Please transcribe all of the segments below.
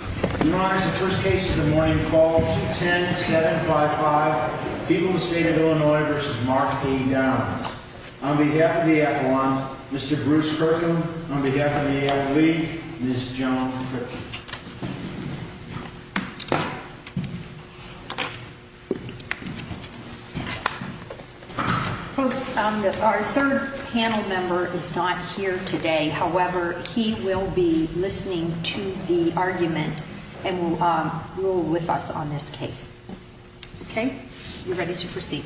Your Honor, the first case of the morning calls 10-755, People, the State of Illinois v. Mark A. Downs. On behalf of the Avalon, Mr. Bruce Kirkham, on behalf of the A.I. League, Ms. Joan Critchin. Folks, our third panel member is not here today. However, he will be listening to the argument and will rule with us on this case. Okay, we're ready to proceed.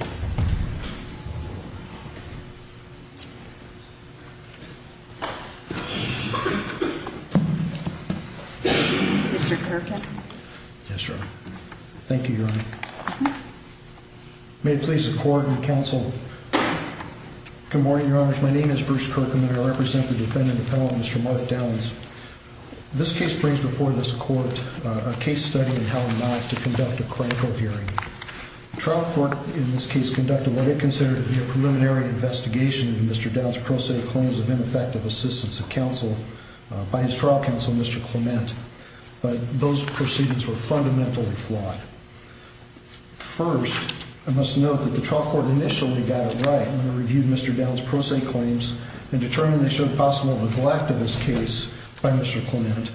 Mr. Kirkham. Yes, Your Honor. Thank you, Your Honor. May it please the court and counsel. Good morning, Your Honors. My name is Bruce Kirkham and I represent the defendant, the panel member, Mr. Mark Downs. This case brings before this court a case study in how not to conduct a critical hearing. The trial court in this case conducted what it considered to be a preliminary investigation of Mr. Downs' pro se claims of ineffective assistance of counsel by his trial counsel, Mr. Clement. But those proceedings were fundamentally flawed. First, I must note that the trial court initially got it right when they reviewed Mr. Downs' pro se claims and determined they showed possible neglect of his case by Mr. Clement.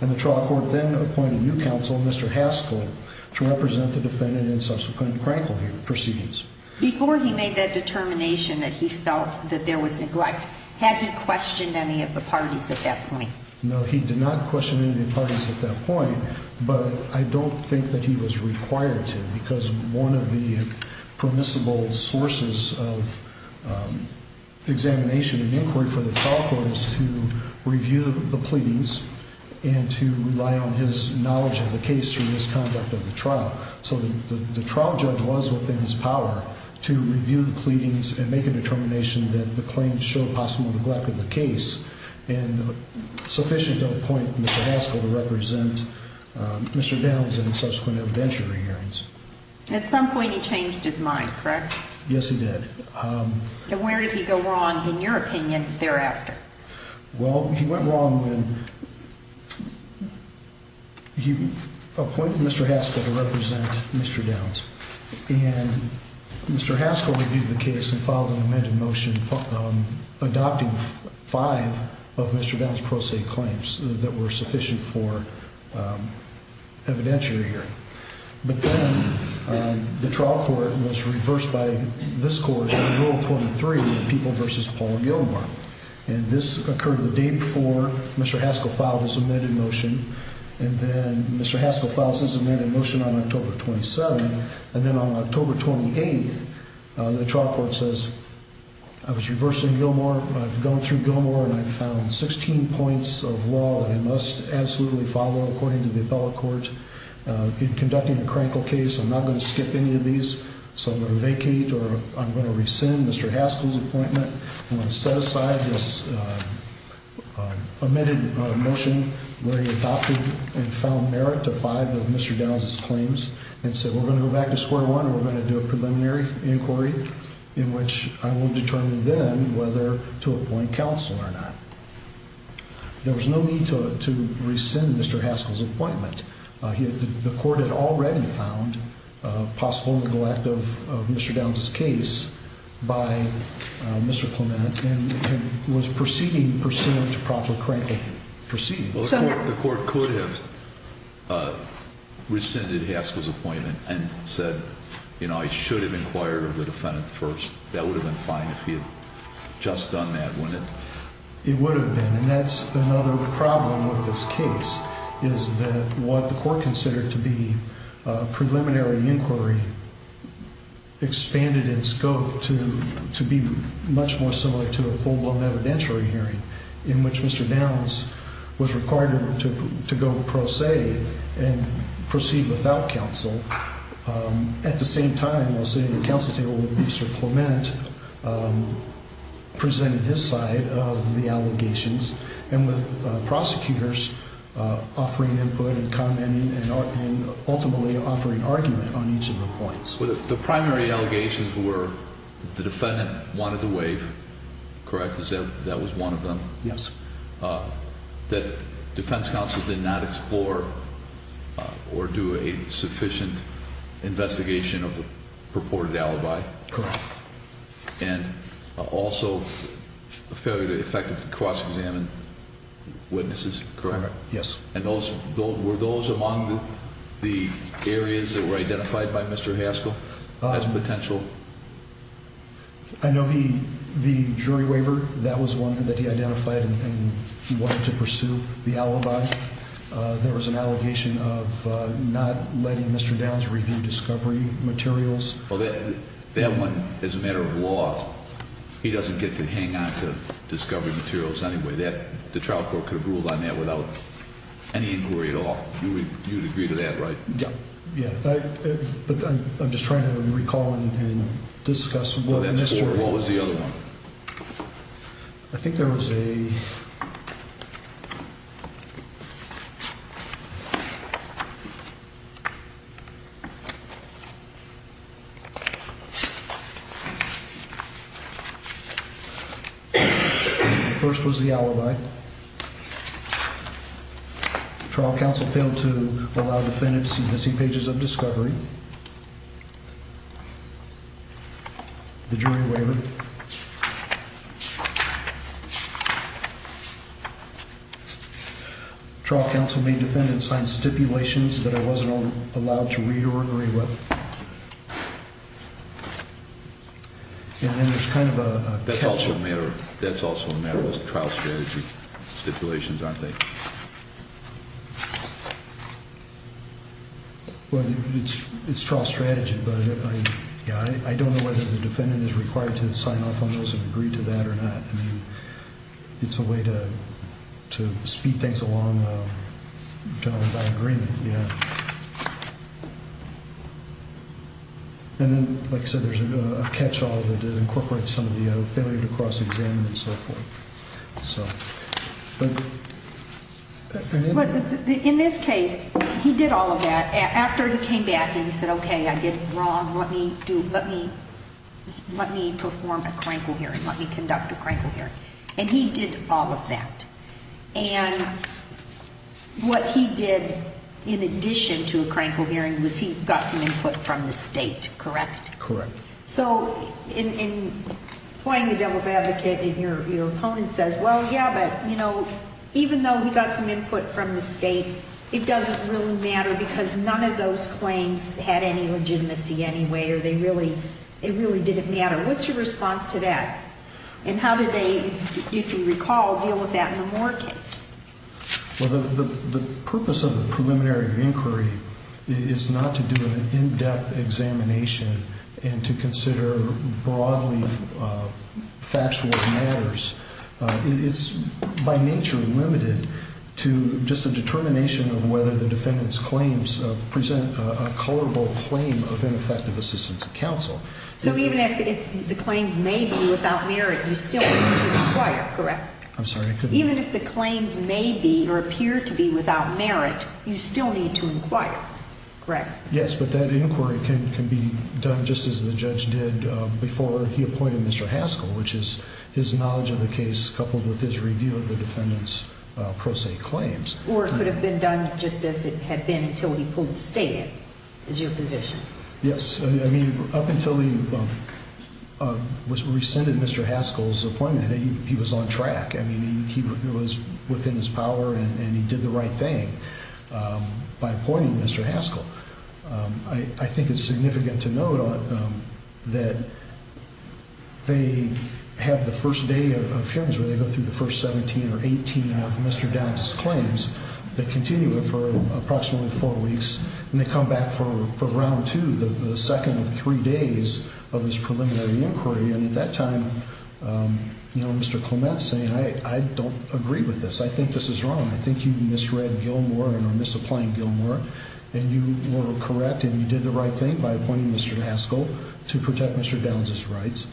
And the trial court then appointed new counsel, Mr. Haskell, to represent the defendant in subsequent critical hearing proceedings. Before he made that determination that he felt that there was neglect, had he questioned any of the parties at that point? No, he did not question any of the parties at that point. But I don't think that he was required to because one of the permissible sources of examination and inquiry for the trial court is to review the pleadings and to rely on his knowledge of the case through his conduct of the trial. So the trial judge was within his power to review the pleadings and make a determination that the claims show possible neglect of the case. And sufficiently to appoint Mr. Haskell to represent Mr. Downs in subsequent evidentiary hearings. At some point he changed his mind, correct? Yes, he did. And where did he go wrong in your opinion thereafter? Well, he went wrong when he appointed Mr. Haskell to represent Mr. Downs. And Mr. Haskell reviewed the case and filed an amended motion adopting five of Mr. Downs' pro se claims that were sufficient for evidentiary hearing. But then the trial court was reversed by this court in Rule 23, People v. Paul Gilmore. And this occurred the day before Mr. Haskell filed his amended motion. And then Mr. Haskell filed his amended motion on October 27. And then on October 28, the trial court says, I was reversed in Gilmore. I've gone through Gilmore and I found 16 points of law that I must absolutely follow according to the appellate court. I've been conducting a crankle case. I'm not going to skip any of these. So I'm going to vacate or I'm going to rescind Mr. Haskell's appointment. I'm going to set aside this amended motion where he adopted and found merit to five of Mr. Downs' claims. And said we're going to go back to square one and we're going to do a preliminary inquiry in which I will determine then whether to appoint counsel or not. There was no need to rescind Mr. Haskell's appointment. The court had already found possible neglect of Mr. Downs' case by Mr. Clement and was proceeding to promptly crankle proceedings. The court could have rescinded Haskell's appointment and said, I should have inquired of the defendant first. That would have been fine if he had just done that, wouldn't it? It would have been. And that's another problem with this case is that what the court considered to be a preliminary inquiry expanded in scope to be much more similar to a full-blown evidentiary hearing. In which Mr. Downs was required to go pro se and proceed without counsel. At the same time, while sitting at the counsel table with Mr. Clement, presented his side of the allegations. And with prosecutors offering input and commenting and ultimately offering argument on each of the points. The primary allegations were the defendant wanted to waive, correct? That was one of them? Yes. That defense counsel did not explore or do a sufficient investigation of the purported alibi? Correct. And also a failure to effectively cross-examine witnesses, correct? Yes. And were those among the areas that were identified by Mr. Haskell as potential? I know the jury waiver, that was one that he identified and wanted to pursue the alibi. There was an allegation of not letting Mr. Downs review discovery materials. That one, as a matter of law, he doesn't get to hang on to discovery materials anyway. The trial court could have ruled on that without any inquiry at all. You would agree to that, right? Yeah. But I'm just trying to recall and discuss what Mr. What was the other one? I think there was a... The first was the alibi. Trial counsel failed to allow the defendant to see missing pages of discovery. The jury waiver. Trial counsel made defendant sign stipulations that I wasn't allowed to read or agree with. And then there's kind of a catch. That's also a matter of trial strategy stipulations, aren't they? Well, it's trial strategy, but I don't know whether the defendant is required to sign off on those and agree to that or not. I mean, it's a way to speed things along generally by agreement, yeah. And then, like I said, there's a catch-all that incorporates some of the failure to cross-examine and so forth. In this case, he did all of that. After he came back and he said, okay, I did it wrong. Let me perform a crankle hearing. Let me conduct a crankle hearing. And he did all of that. And what he did in addition to a crankle hearing was he got some input from the state, correct? Correct. So in playing the devil's advocate and your opponent says, well, yeah, but, you know, even though he got some input from the state, it doesn't really matter because none of those claims had any legitimacy anyway or they really didn't matter. What's your response to that? And how did they, if you recall, deal with that in the Moore case? Well, the purpose of the preliminary inquiry is not to do an in-depth examination and to consider broadly factual matters. It's by nature limited to just a determination of whether the defendant's claims present a culpable claim of ineffective assistance of counsel. So even if the claims may be without merit, you still need to inquire, correct? I'm sorry, I couldn't hear you. Even if the claims may be or appear to be without merit, you still need to inquire, correct? Yes, but that inquiry can be done just as the judge did before he appointed Mr. Haskell, which is his knowledge of the case coupled with his review of the defendant's pro se claims. Or it could have been done just as it had been until he pulled the stake, is your position? Yes. I mean, up until he rescinded Mr. Haskell's appointment, he was on track. I mean, he was within his power and he did the right thing by appointing Mr. Haskell. I think it's significant to note that they have the first day of hearings where they go through the first 17 or 18 of Mr. Downey's claims. They continue it for approximately four weeks, and they come back for round two, the second of three days of his preliminary inquiry. And at that time, you know, Mr. Clement's saying, I don't agree with this. I think this is wrong. I think you misread Gilmore and are misapplying Gilmore. And you were correct and you did the right thing by appointing Mr. Haskell to protect Mr. Downey's rights.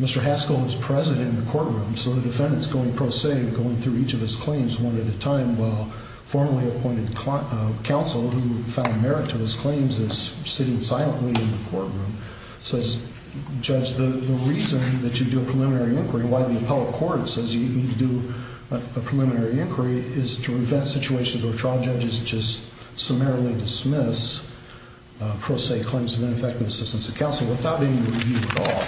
Mr. Haskell is present in the courtroom, so the defendant's going pro se, going through each of his claims one at a time, while formerly appointed counsel, who found merit to his claims, is sitting silently in the courtroom. Says, Judge, the reason that you do a preliminary inquiry, why the appellate court says you need to do a preliminary inquiry, is to prevent situations where trial judges just summarily dismiss pro se claims of ineffective assistance of counsel without any review at all.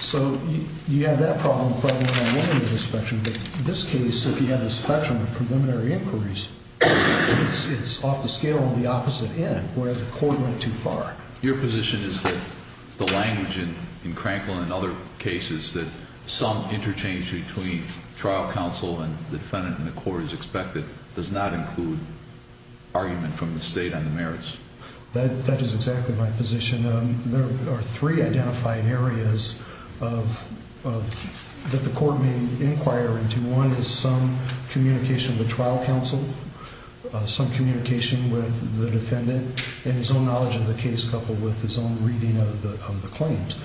So you have that problem, but I don't want to go into the spectrum. But in this case, if you have a spectrum of preliminary inquiries, it's off the scale on the opposite end, where the court went too far. Your position is that the language in Cranklin and other cases that some interchange between trial counsel and the defendant and the court is expected does not include argument from the state on the merits. That is exactly my position. There are three identifying areas that the court may inquire into. One is some communication with trial counsel, some communication with the defendant, and his own knowledge of the case coupled with his own reading of the claims.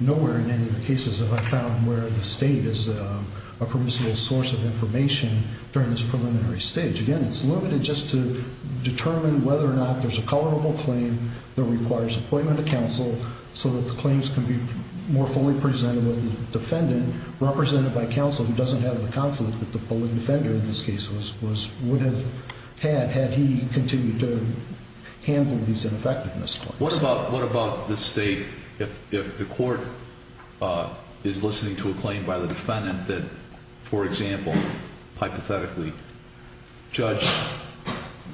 Nowhere in any of the cases have I found where the state is a permissible source of information during this preliminary stage. Again, it's limited just to determine whether or not there's a colorable claim that requires appointment of counsel, so that the claims can be more fully presented with the defendant, represented by counsel, who doesn't have the conflict that the polling defender in this case would have had, had he continued to handle these ineffectiveness claims. What about the state if the court is listening to a claim by the defendant that, for example, hypothetically, Judge,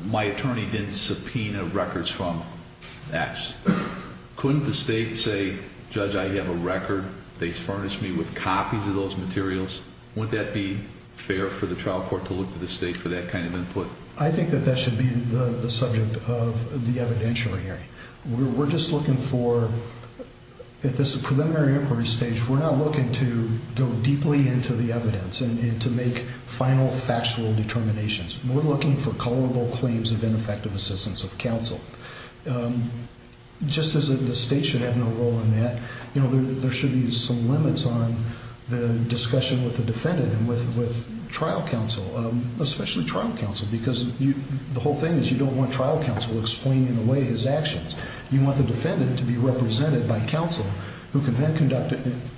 my attorney didn't subpoena records from X. Couldn't the state say, Judge, I have a record. They furnished me with copies of those materials. Wouldn't that be fair for the trial court to look to the state for that kind of input? I think that that should be the subject of the evidentiary hearing. We're just looking for, at this preliminary inquiry stage, we're not looking to go deeply into the evidence and to make final factual determinations. We're looking for colorable claims of ineffective assistance of counsel. Just as the state should have no role in that, there should be some limits on the discussion with the defendant and with trial counsel, especially trial counsel, because the whole thing is you don't want trial counsel explaining away his actions. You want the defendant to be represented by counsel who can then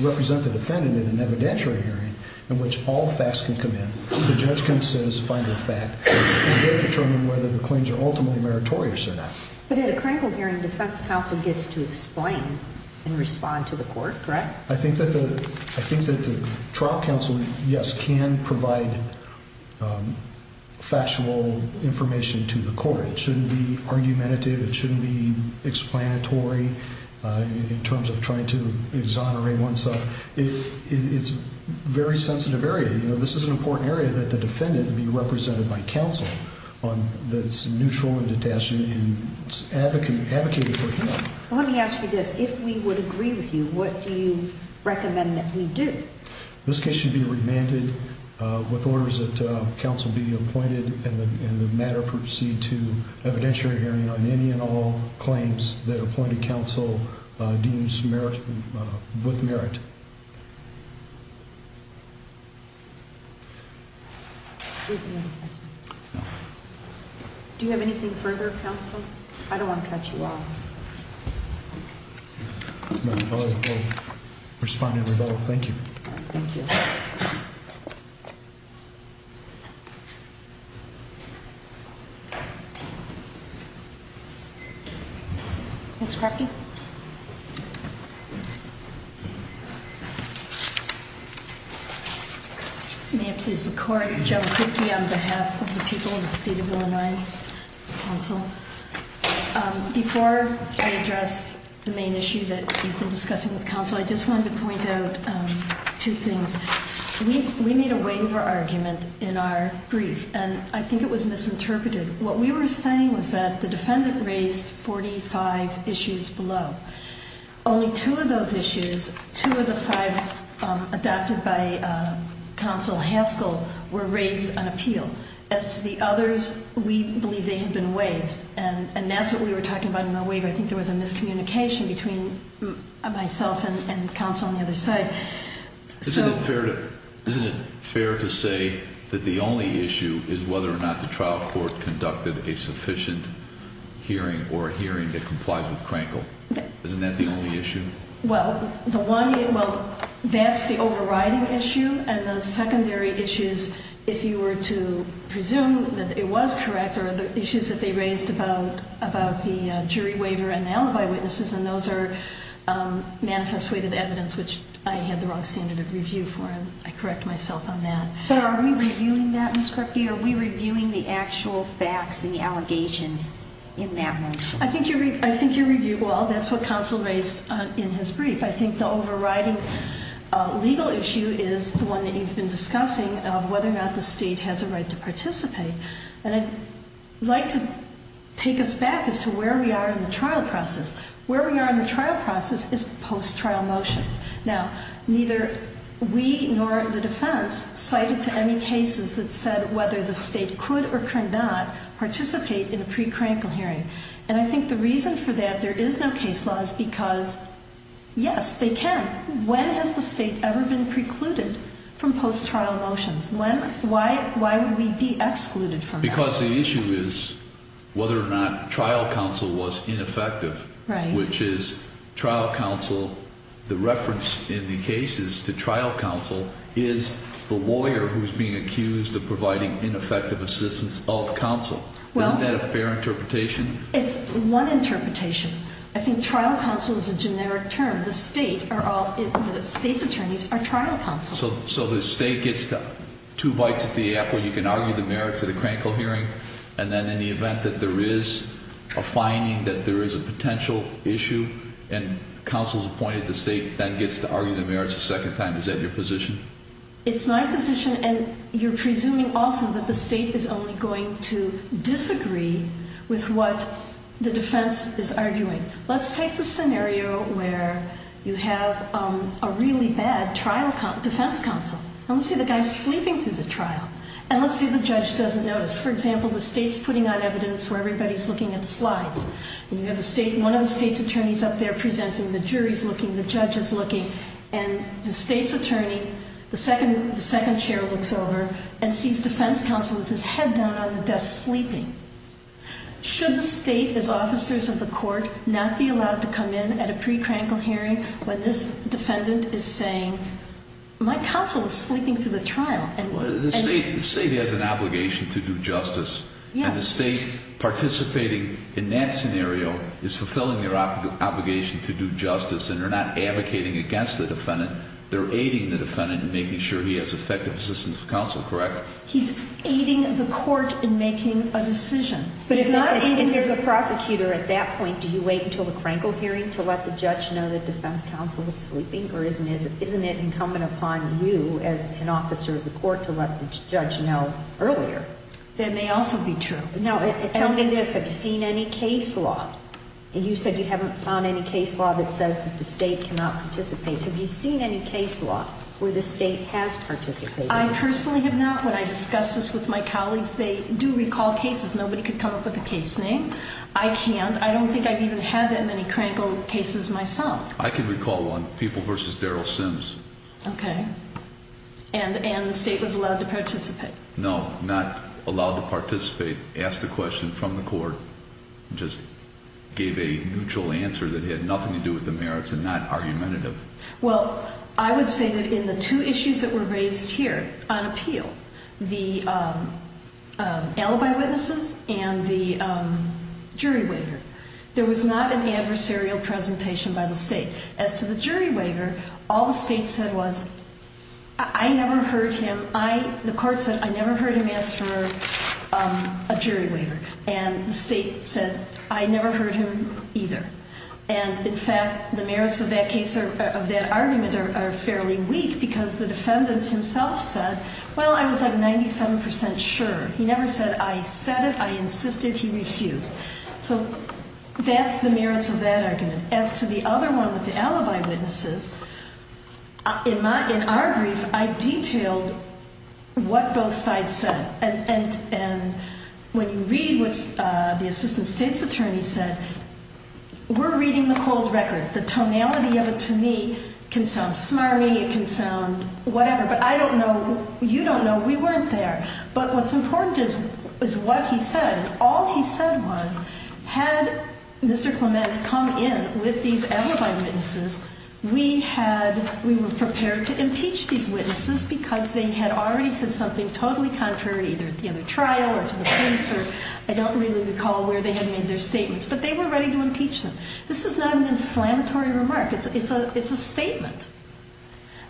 represent the defendant in an evidentiary hearing in which all facts can come in. The judge can't say it's a final fact. You've got to determine whether the claims are ultimately meritorious or not. But at a critical hearing, defense counsel gets to explain and respond to the court, correct? I think that the trial counsel, yes, can provide factual information to the court. It shouldn't be argumentative. It shouldn't be explanatory in terms of trying to exonerate oneself. It's a very sensitive area. This is an important area that the defendant be represented by counsel that's neutral and detached and advocated for him. Let me ask you this. If we would agree with you, what do you recommend that we do? This case should be remanded with orders that counsel be appointed and the matter proceed to evidentiary hearing on any and all claims that appointed counsel deems with merit. Do you have anything further, counsel? I don't want to cut you off. Responding. Thank you. Ms. Crockett? May it please the court, Joan Crockett on behalf of the people of the State of Illinois Counsel. Before I address the main issue that we've been discussing with counsel, I just wanted to point out two things. We made a waiver argument in our brief, and I think it was misinterpreted. What we were saying was that the defendant raised 45 issues below. Only two of those issues, two of the five adopted by counsel Haskell, were raised on appeal. As to the others, we believe they had been waived. And that's what we were talking about in the waiver. I think there was a miscommunication between myself and counsel on the other side. Isn't it fair to say that the only issue is whether or not the trial court conducted a sufficient hearing or a hearing that complied with Crankle? Isn't that the only issue? Well, that's the overriding issue. And the secondary issues, if you were to presume that it was correct, are the issues that they raised about the jury waiver and the alibi witnesses. And those are manifest weight of evidence, which I had the wrong standard of review for, and I correct myself on that. But are we reviewing that, Ms. Crockett? Are we reviewing the actual facts and the allegations in that motion? I think you're reviewing, well, that's what counsel raised in his brief. I think the overriding legal issue is the one that you've been discussing of whether or not the state has a right to participate. And I'd like to take us back as to where we are in the trial process. Where we are in the trial process is post-trial motions. Now, neither we nor the defense cited to any cases that said whether the state could or could not participate in a pre-Crankle hearing. And I think the reason for that, there is no case law, is because, yes, they can. When has the state ever been precluded from post-trial motions? When? Why would we be excluded from that? Because the issue is whether or not trial counsel was ineffective. Right. Which is trial counsel, the reference in the cases to trial counsel, is the lawyer who's being accused of providing ineffective assistance of counsel. Well- Isn't that a fair interpretation? It's one interpretation. I think trial counsel is a generic term. The state are all, the state's attorneys are trial counsel. So the state gets two bites at the apple. You can argue the merits at a Crankle hearing. And then in the event that there is a finding that there is a potential issue and counsel is appointed to state, then gets to argue the merits a second time. Is that your position? It's my position, and you're presuming also that the state is only going to disagree with what the defense is arguing. Let's take the scenario where you have a really bad trial defense counsel. And let's say the guy's sleeping through the trial. And let's say the judge doesn't notice. For example, the state's putting out evidence where everybody's looking at slides. And you have one of the state's attorneys up there presenting. The jury's looking. The judge is looking. And the state's attorney, the second chair, looks over and sees defense counsel with his head down on the desk sleeping. Should the state, as officers of the court, not be allowed to come in at a pre-Crankle hearing when this defendant is saying, my counsel is sleeping through the trial? The state has an obligation to do justice. And the state participating in that scenario is fulfilling their obligation to do justice. And they're not advocating against the defendant. They're aiding the defendant in making sure he has effective assistance of counsel, correct? He's aiding the court in making a decision. But if you're the prosecutor at that point, do you wait until the Crankle hearing to let the judge know that defense counsel is sleeping? Or isn't it incumbent upon you as an officer of the court to let the judge know earlier? That may also be true. Now, tell me this. Have you seen any case law? And you said you haven't found any case law that says that the state cannot participate. Have you seen any case law where the state has participated? I personally have not. When I discussed this with my colleagues, they do recall cases. Nobody could come up with a case name. I can't. I don't think I've even had that many Crankle cases myself. I can recall one, People v. Darrell Sims. Okay. And the state was allowed to participate? No, not allowed to participate. The state asked a question from the court and just gave a neutral answer that had nothing to do with the merits and not argumentative. Well, I would say that in the two issues that were raised here on appeal, the alibi witnesses and the jury waiver, there was not an adversarial presentation by the state. As to the jury waiver, all the state said was, I never heard him. The court said, I never heard him ask for a jury waiver. And the state said, I never heard him either. And, in fact, the merits of that argument are fairly weak because the defendant himself said, well, I was like 97% sure. He never said, I said it. I insisted. He refused. So that's the merits of that argument. As to the other one with the alibi witnesses, in our brief, I detailed what both sides said. And when you read what the assistant state's attorney said, we're reading the cold record. The tonality of it to me can sound smarmy. It can sound whatever. But I don't know. You don't know. We weren't there. But what's important is what he said. All he said was, had Mr. Clement come in with these alibi witnesses, we were prepared to impeach these witnesses because they had already said something totally contrary either at the other trial or to the police. Or I don't really recall where they had made their statements. But they were ready to impeach them. This is not an inflammatory remark. It's a statement.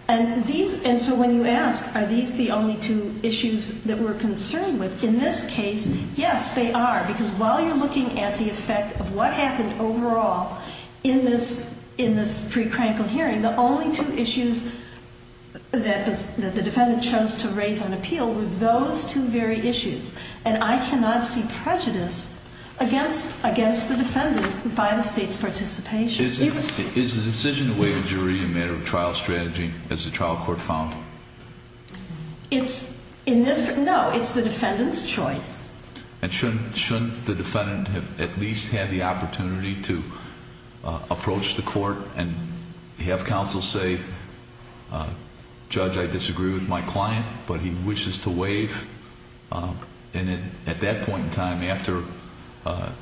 And so when you ask, are these the only two issues that we're concerned with, in this case, yes, they are. Because while you're looking at the effect of what happened overall in this pre-crankle hearing, the only two issues that the defendant chose to raise on appeal were those two very issues. And I cannot see prejudice against the defendant by the state's participation. Is the decision to waive a jury a matter of trial strategy, as the trial court found? No, it's the defendant's choice. And shouldn't the defendant have at least had the opportunity to approach the court and have counsel say, judge, I disagree with my client, but he wishes to waive? And at that point in time, after the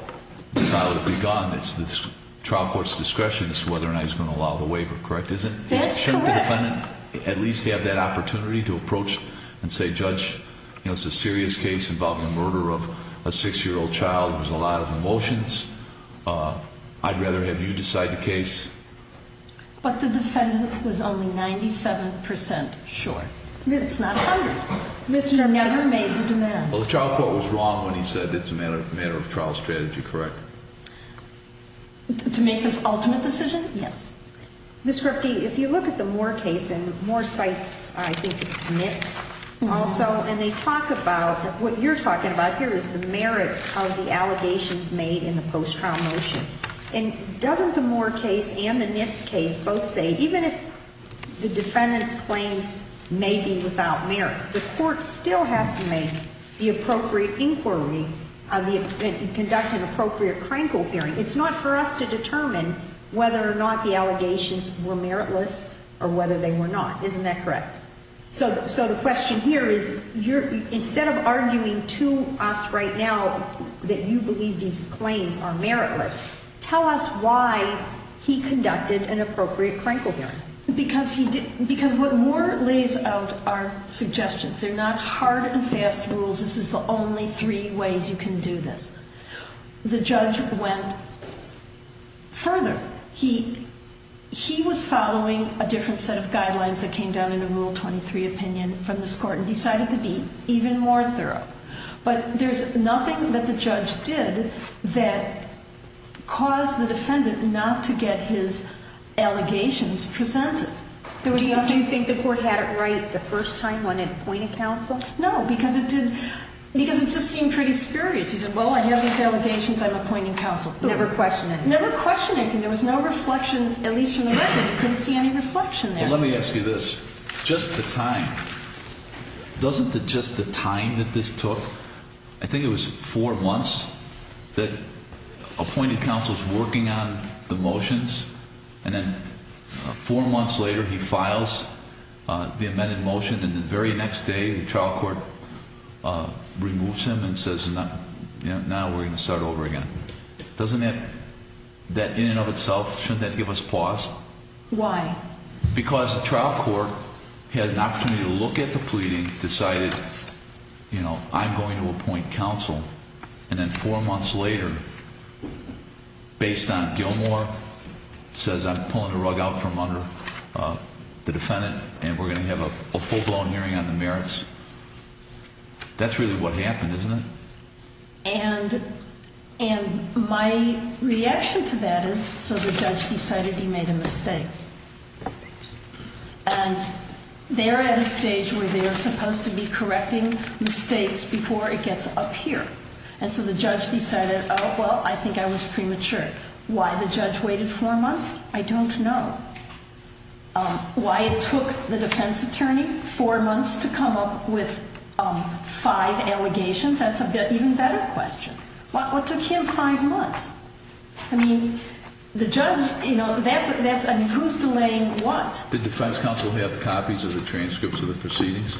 trial had begun, it's the trial court's discretion as to whether or not he's going to allow the waiver, correct? That's correct. Shouldn't the defendant at least have that opportunity to approach and say, judge, it's a serious case involving the murder of a six-year-old child. There's a lot of emotions. I'd rather have you decide the case. But the defendant was only 97% sure. It's not 100%. Well, the trial court was wrong when he said it's a matter of trial strategy, correct? To make the ultimate decision? Yes. Ms. Skripke, if you look at the Moore case, and Moore cites, I think it's NITS, also, and they talk about, what you're talking about here is the merits of the allegations made in the post-trial motion. And doesn't the Moore case and the NITS case both say, even if the defendant's claims may be without merit, the court still has to make the appropriate inquiry and conduct an appropriate Krankel hearing? It's not for us to determine whether or not the allegations were meritless or whether they were not. Isn't that correct? So the question here is, instead of arguing to us right now that you believe these claims are meritless, tell us why he conducted an appropriate Krankel hearing. Because what Moore lays out are suggestions. They're not hard and fast rules. This is the only three ways you can do this. The judge went further. He was following a different set of guidelines that came down in a Rule 23 opinion from this court and decided to be even more thorough. But there's nothing that the judge did that caused the defendant not to get his allegations presented. Do you think the court had it right the first time when it appointed counsel? No, because it just seemed pretty spurious. He said, well, I have these allegations. I'm appointing counsel. Never questioned anything. There was no reflection, at least from the record. You couldn't see any reflection there. Let me ask you this. Just the time. Doesn't it just the time that this took? I think it was four months that appointed counsel is working on the motions, and then four months later he files the amended motion, and the very next day the trial court removes him and says, now we're going to start over again. Doesn't that, in and of itself, shouldn't that give us pause? Why? Because the trial court had an opportunity to look at the pleading, decided, you know, I'm going to appoint counsel, and then four months later, based on Gilmore, says I'm pulling the rug out from under the defendant and we're going to have a full-blown hearing on the merits. That's really what happened, isn't it? And my reaction to that is, so the judge decided he made a mistake. And they're at a stage where they are supposed to be correcting mistakes before it gets up here. And so the judge decided, oh, well, I think I was premature. Why the judge waited four months, I don't know. Why it took the defense attorney four months to come up with five allegations, that's an even better question. What took him five months? I mean, the judge, you know, who's delaying what? Did defense counsel have copies of the transcripts of the proceedings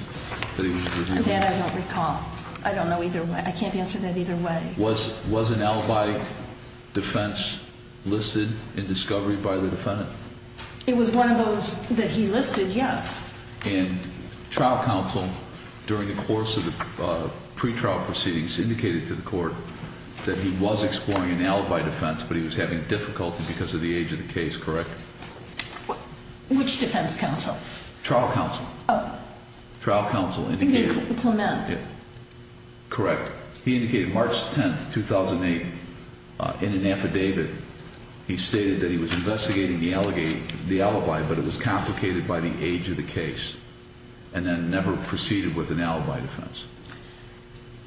that he was reviewing? That I don't recall. I don't know either way. I can't answer that either way. Was an alibi defense listed in discovery by the defendant? It was one of those that he listed, yes. And trial counsel, during the course of the pretrial proceedings, indicated to the court that he was exploring an alibi defense, but he was having difficulty because of the age of the case, correct? Which defense counsel? Trial counsel. Oh. Trial counsel indicated. Clement. Correct. He indicated March 10, 2008, in an affidavit. He stated that he was investigating the alibi, but it was complicated by the age of the case, and then never proceeded with an alibi defense.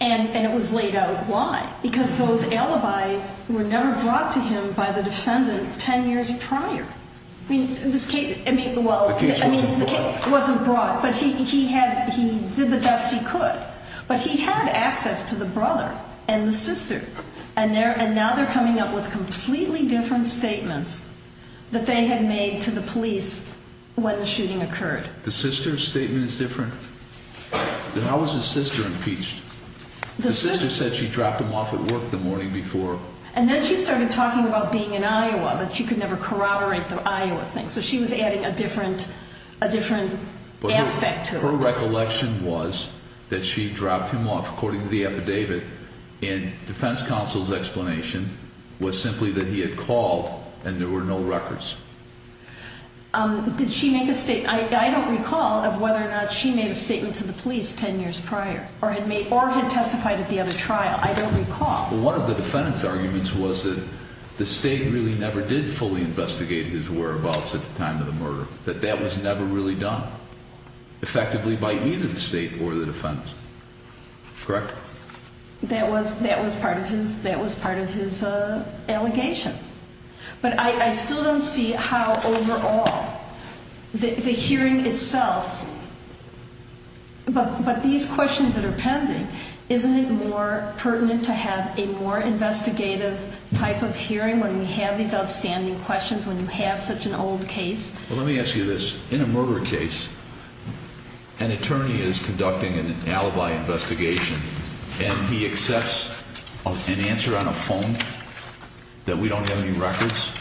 And it was laid out. Why? Because those alibis were never brought to him by the defendant 10 years prior. I mean, this case, I mean, well. The case wasn't brought. It wasn't brought, but he did the best he could. But he had access to the brother and the sister, and now they're coming up with completely different statements that they had made to the police when the shooting occurred. The sister's statement is different? How was the sister impeached? The sister said she dropped him off at work the morning before. And then she started talking about being in Iowa, that she could never corroborate the Iowa thing. So she was adding a different aspect to it. Her recollection was that she dropped him off, according to the affidavit, and defense counsel's explanation was simply that he had called and there were no records. Did she make a statement? I don't recall of whether or not she made a statement to the police 10 years prior or had testified at the other trial. I don't recall. Well, one of the defendant's arguments was that the state really never did fully investigate his whereabouts at the time of the murder, that that was never really done effectively by either the state or the defense. Correct? That was part of his allegations. But I still don't see how overall the hearing itself, but these questions that are pending, isn't it more pertinent to have a more investigative type of hearing when we have these outstanding questions when you have such an old case? Well, let me ask you this. In a murder case, an attorney is conducting an alibi investigation and he accepts an answer on a phone that we don't have any records.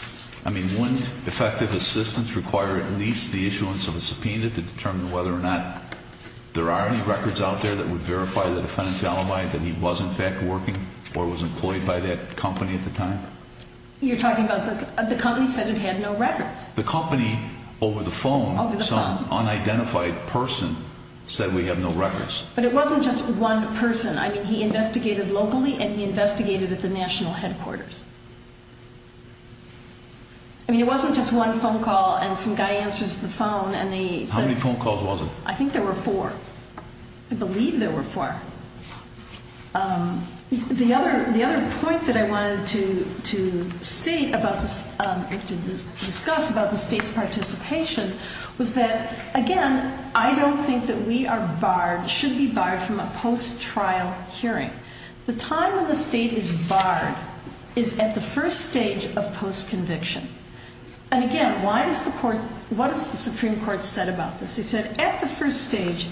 I mean, wouldn't effective assistance require at least the issuance of a subpoena to determine whether or not there are any records out there that would verify the defendant's alibi that he was, in fact, working or was employed by that company at the time? You're talking about the company said it had no records. The company over the phone, some unidentified person, said we have no records. But it wasn't just one person. I mean, he investigated locally and he investigated at the national headquarters. I mean, it wasn't just one phone call and some guy answers the phone and they said— How many phone calls was it? I think there were four. I believe there were four. The other point that I wanted to discuss about the State's participation was that, again, I don't think that we should be barred from a post-trial hearing. The time when the State is barred is at the first stage of post-conviction. And, again, what has the Supreme Court said about this? They said at the first stage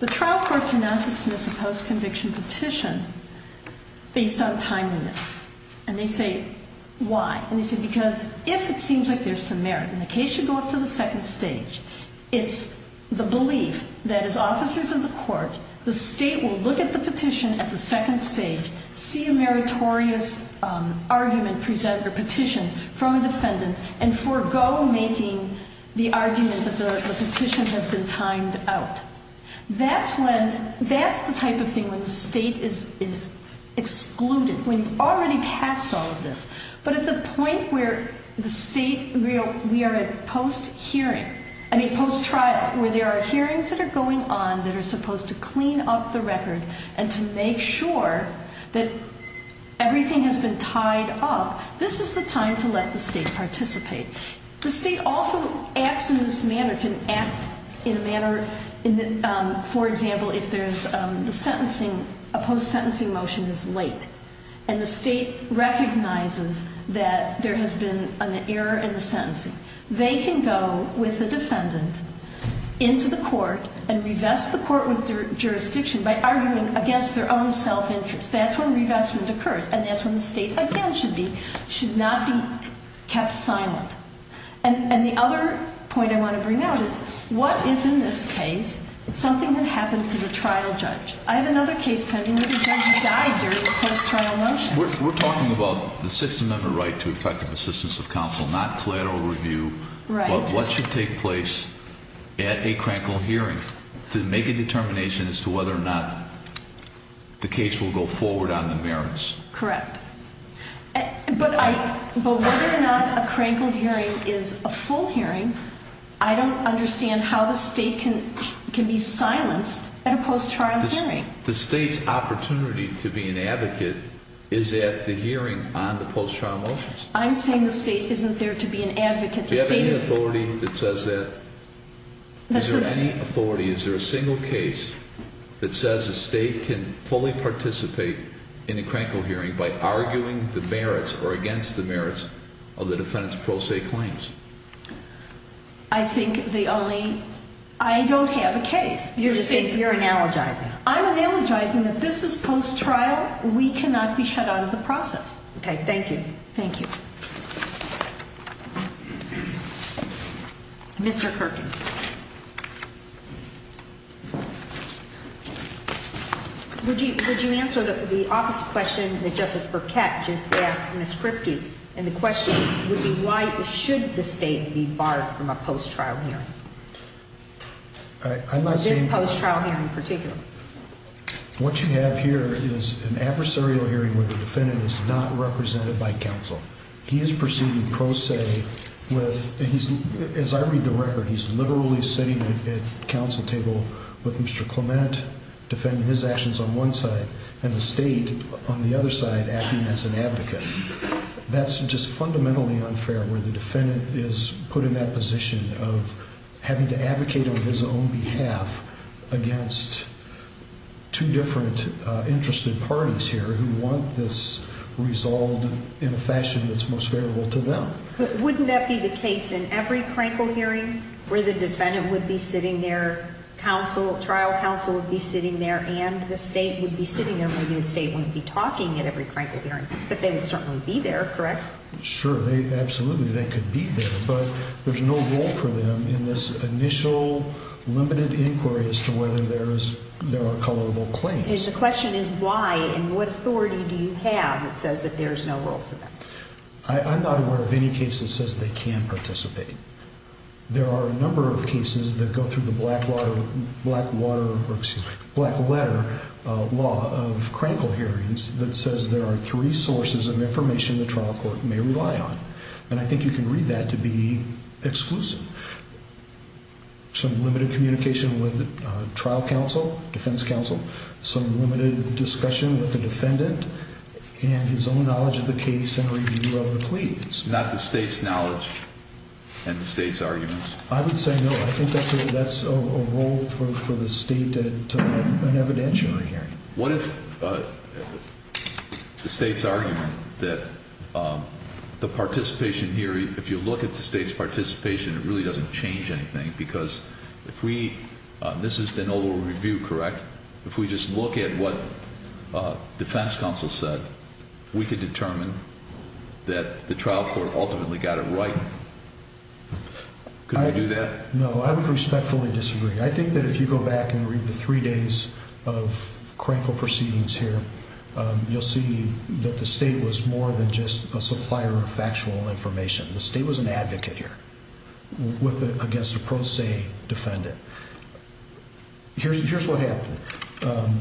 the trial court cannot dismiss a post-conviction petition based on time limits. And they say why? And they say because if it seems like there's some merit and the case should go up to the second stage, it's the belief that as officers of the court the State will look at the petition at the second stage, see a meritorious argument presented or petition from a defendant, and forego making the argument that the petition has been timed out. That's the type of thing when the State is excluded, when you've already passed all of this. But at the point where the State—we are at post-hearing—I mean post-trial, where there are hearings that are going on that are supposed to clean up the record and to make sure that everything has been tied up, this is the time to let the State participate. The State also acts in this manner. It can act in a manner, for example, if a post-sentencing motion is late and the State recognizes that there has been an error in the sentencing, they can go with the defendant into the court and revest the court with jurisdiction by arguing against their own self-interest. That's when revestment occurs, and that's when the State again should not be kept silent. And the other point I want to bring out is what if in this case something had happened to the trial judge? I have another case pending where the judge died during the post-trial motions. We're talking about the Sixth Amendment right to effective assistance of counsel, not collateral review. Right. What should take place at a crankle hearing to make a determination as to whether or not the case will go forward on the merits? Correct. But whether or not a crankle hearing is a full hearing, I don't understand how the State can be silenced at a post-trial hearing. The State's opportunity to be an advocate is at the hearing on the post-trial motions. I'm saying the State isn't there to be an advocate. Do you have any authority that says that? Is there any authority? Is there a single case that says the State can fully participate in a crankle hearing by arguing the merits or against the merits of the defendant's pro se claims? I think the only—I don't have a case. You're analogizing. I'm analogizing that this is post-trial. We cannot be shut out of the process. Okay. Thank you. Thank you. Mr. Kirken. Would you answer the opposite question that Justice Burkett just asked Ms. Kripke? And the question would be why should the State be barred from a post-trial hearing? I'm not saying— This post-trial hearing in particular. What you have here is an adversarial hearing where the defendant is not represented by counsel. He is proceeding pro se with—as I read the record, he's literally sitting at counsel table with Mr. Clement defending his actions on one side and the State on the other side acting as an advocate. That's just fundamentally unfair where the defendant is put in that position of having to advocate on his own behalf against two different interested parties here who want this resolved in a fashion that's most favorable to them. Wouldn't that be the case in every Krinkle hearing where the defendant would be sitting there, trial counsel would be sitting there, and the State would be sitting there? Maybe the State wouldn't be talking at every Krinkle hearing, but they would certainly be there, correct? Sure. Absolutely, they could be there. But there's no role for them in this initial limited inquiry as to whether there are colorable claims. The question is why and what authority do you have that says that there's no role for them? I'm not aware of any case that says they can't participate. There are a number of cases that go through the Blackwater— excuse me, Blackletter law of Krinkle hearings that says there are three sources of information the trial court may rely on. And I think you can read that to be exclusive. Some limited communication with the trial counsel, defense counsel. Some limited discussion with the defendant and his own knowledge of the case and review of the plea. Not the State's knowledge and the State's arguments? I would say no. I think that's a role for the State at an evidentiary hearing. What if the State's argument that the participation here, if you look at the State's participation, it really doesn't change anything? Because if we—this has been over review, correct? If we just look at what defense counsel said, we could determine that the trial court ultimately got it right. Could we do that? No, I would respectfully disagree. I think that if you go back and read the three days of Krinkle proceedings here, you'll see that the State was more than just a supplier of factual information. The State was an advocate here against a pro se defendant. Here's what happened.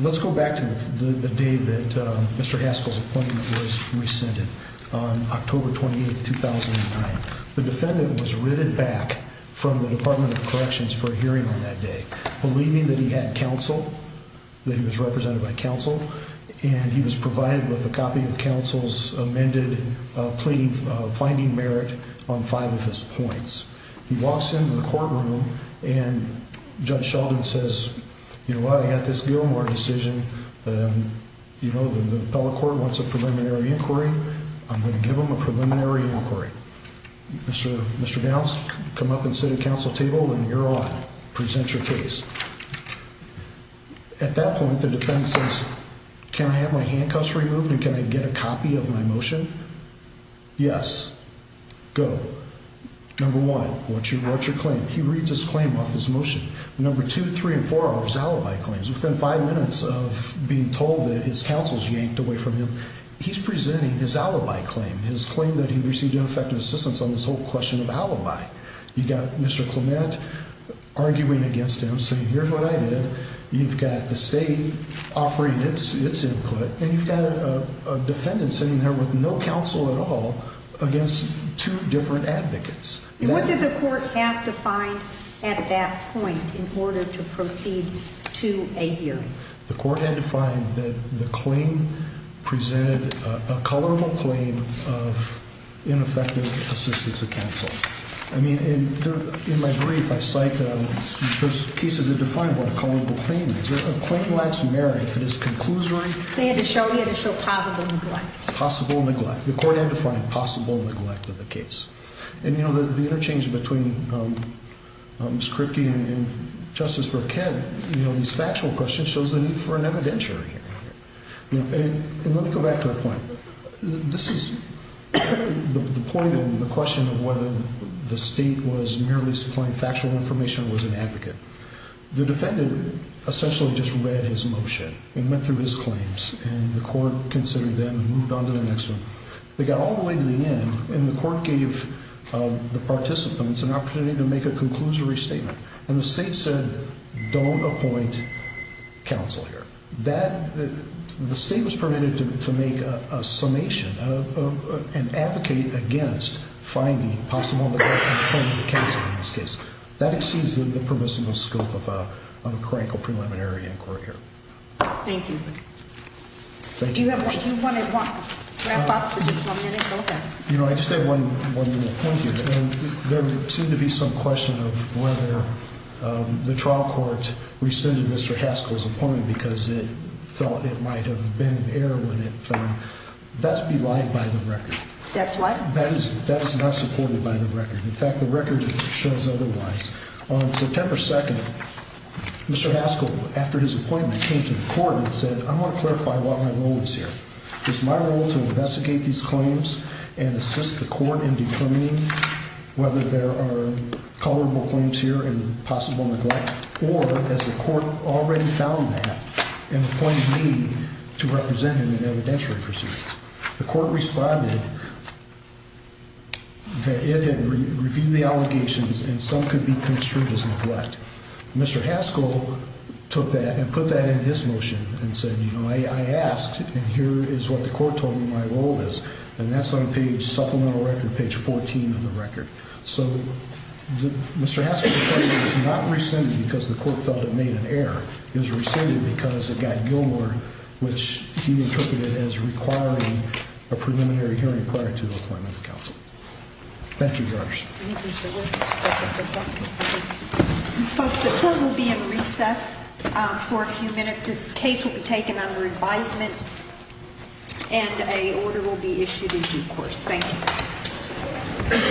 Let's go back to the day that Mr. Haskell's appointment was rescinded, October 28, 2009. The defendant was written back from the Department of Corrections for a hearing on that day, believing that he had counsel, that he was represented by counsel, and he was provided with a copy of counsel's amended plea finding merit on five of his points. He walks into the courtroom, and Judge Sheldon says, you know what, I got this Gilmore decision. You know, the appellate court wants a preliminary inquiry. I'm going to give them a preliminary inquiry. Mr. Downs, come up and sit at counsel's table, and you're on. Present your case. At that point, the defendant says, can I have my handcuffs removed, and can I get a copy of my motion? Yes. Go. Number one, what's your claim? He reads his claim off his motion. Number two, three and four are his alibi claims. Within five minutes of being told that his counsel's yanked away from him, he's presenting his alibi claim, his claim that he received ineffective assistance on this whole question of alibi. You've got Mr. Clement arguing against him, saying here's what I did. You've got the state offering its input, and you've got a defendant sitting there with no counsel at all against two different advocates. What did the court have to find at that point in order to proceed to a hearing? The court had to find that the claim presented a culpable claim of ineffective assistance of counsel. I mean, in my brief, I cite those cases that define what a culpable claim is. A claim lacks merit if it is conclusory. They had to show initial possible neglect. Possible neglect. The court had to find possible neglect of the case. And, you know, the interchange between Ms. Kripke and Justice Roquet, you know, these factual questions shows the need for an evidentiary hearing. And let me go back to a point. This is the point in the question of whether the state was merely supplying factual information or was an advocate. The defendant essentially just read his motion and went through his claims, and the court considered them and moved on to the next one. They got all the way to the end, and the court gave the participants an opportunity to make a conclusory statement. And the state said don't appoint counsel here. The state was permitted to make a summation and advocate against finding possible neglect of counsel in this case. That exceeds the permissible scope of a critical preliminary inquiry here. Thank you. Do you want to wrap up for just one minute? Okay. You know, I just have one more point here. There seemed to be some question of whether the trial court rescinded Mr. Haskell's appointment because it thought it might have been an error when it found that's belied by the record. That's what? That is not supported by the record. In fact, the record shows otherwise. On September 2nd, Mr. Haskell, after his appointment, came to the court and said, I want to clarify what my role is here. Is my role to investigate these claims and assist the court in determining whether there are colorable claims here and possible neglect, or has the court already found that and appointed me to represent him in evidentiary proceedings? The court responded that it had reviewed the allegations and some could be construed as neglect. Mr. Haskell took that and put that in his motion and said, you know, I asked, and here is what the court told me my role is. And that's on page, supplemental record, page 14 of the record. So Mr. Haskell's appointment was not rescinded because the court felt it made an error. It was rescinded because it got Gilmour, which he interpreted as requiring a preliminary hearing prior to the appointment of counsel. Thank you, Your Honor. Thank you, Mr. Wood. Folks, the court will be in recess for a few minutes. This case will be taken under advisement and an order will be issued in due course. Thank you.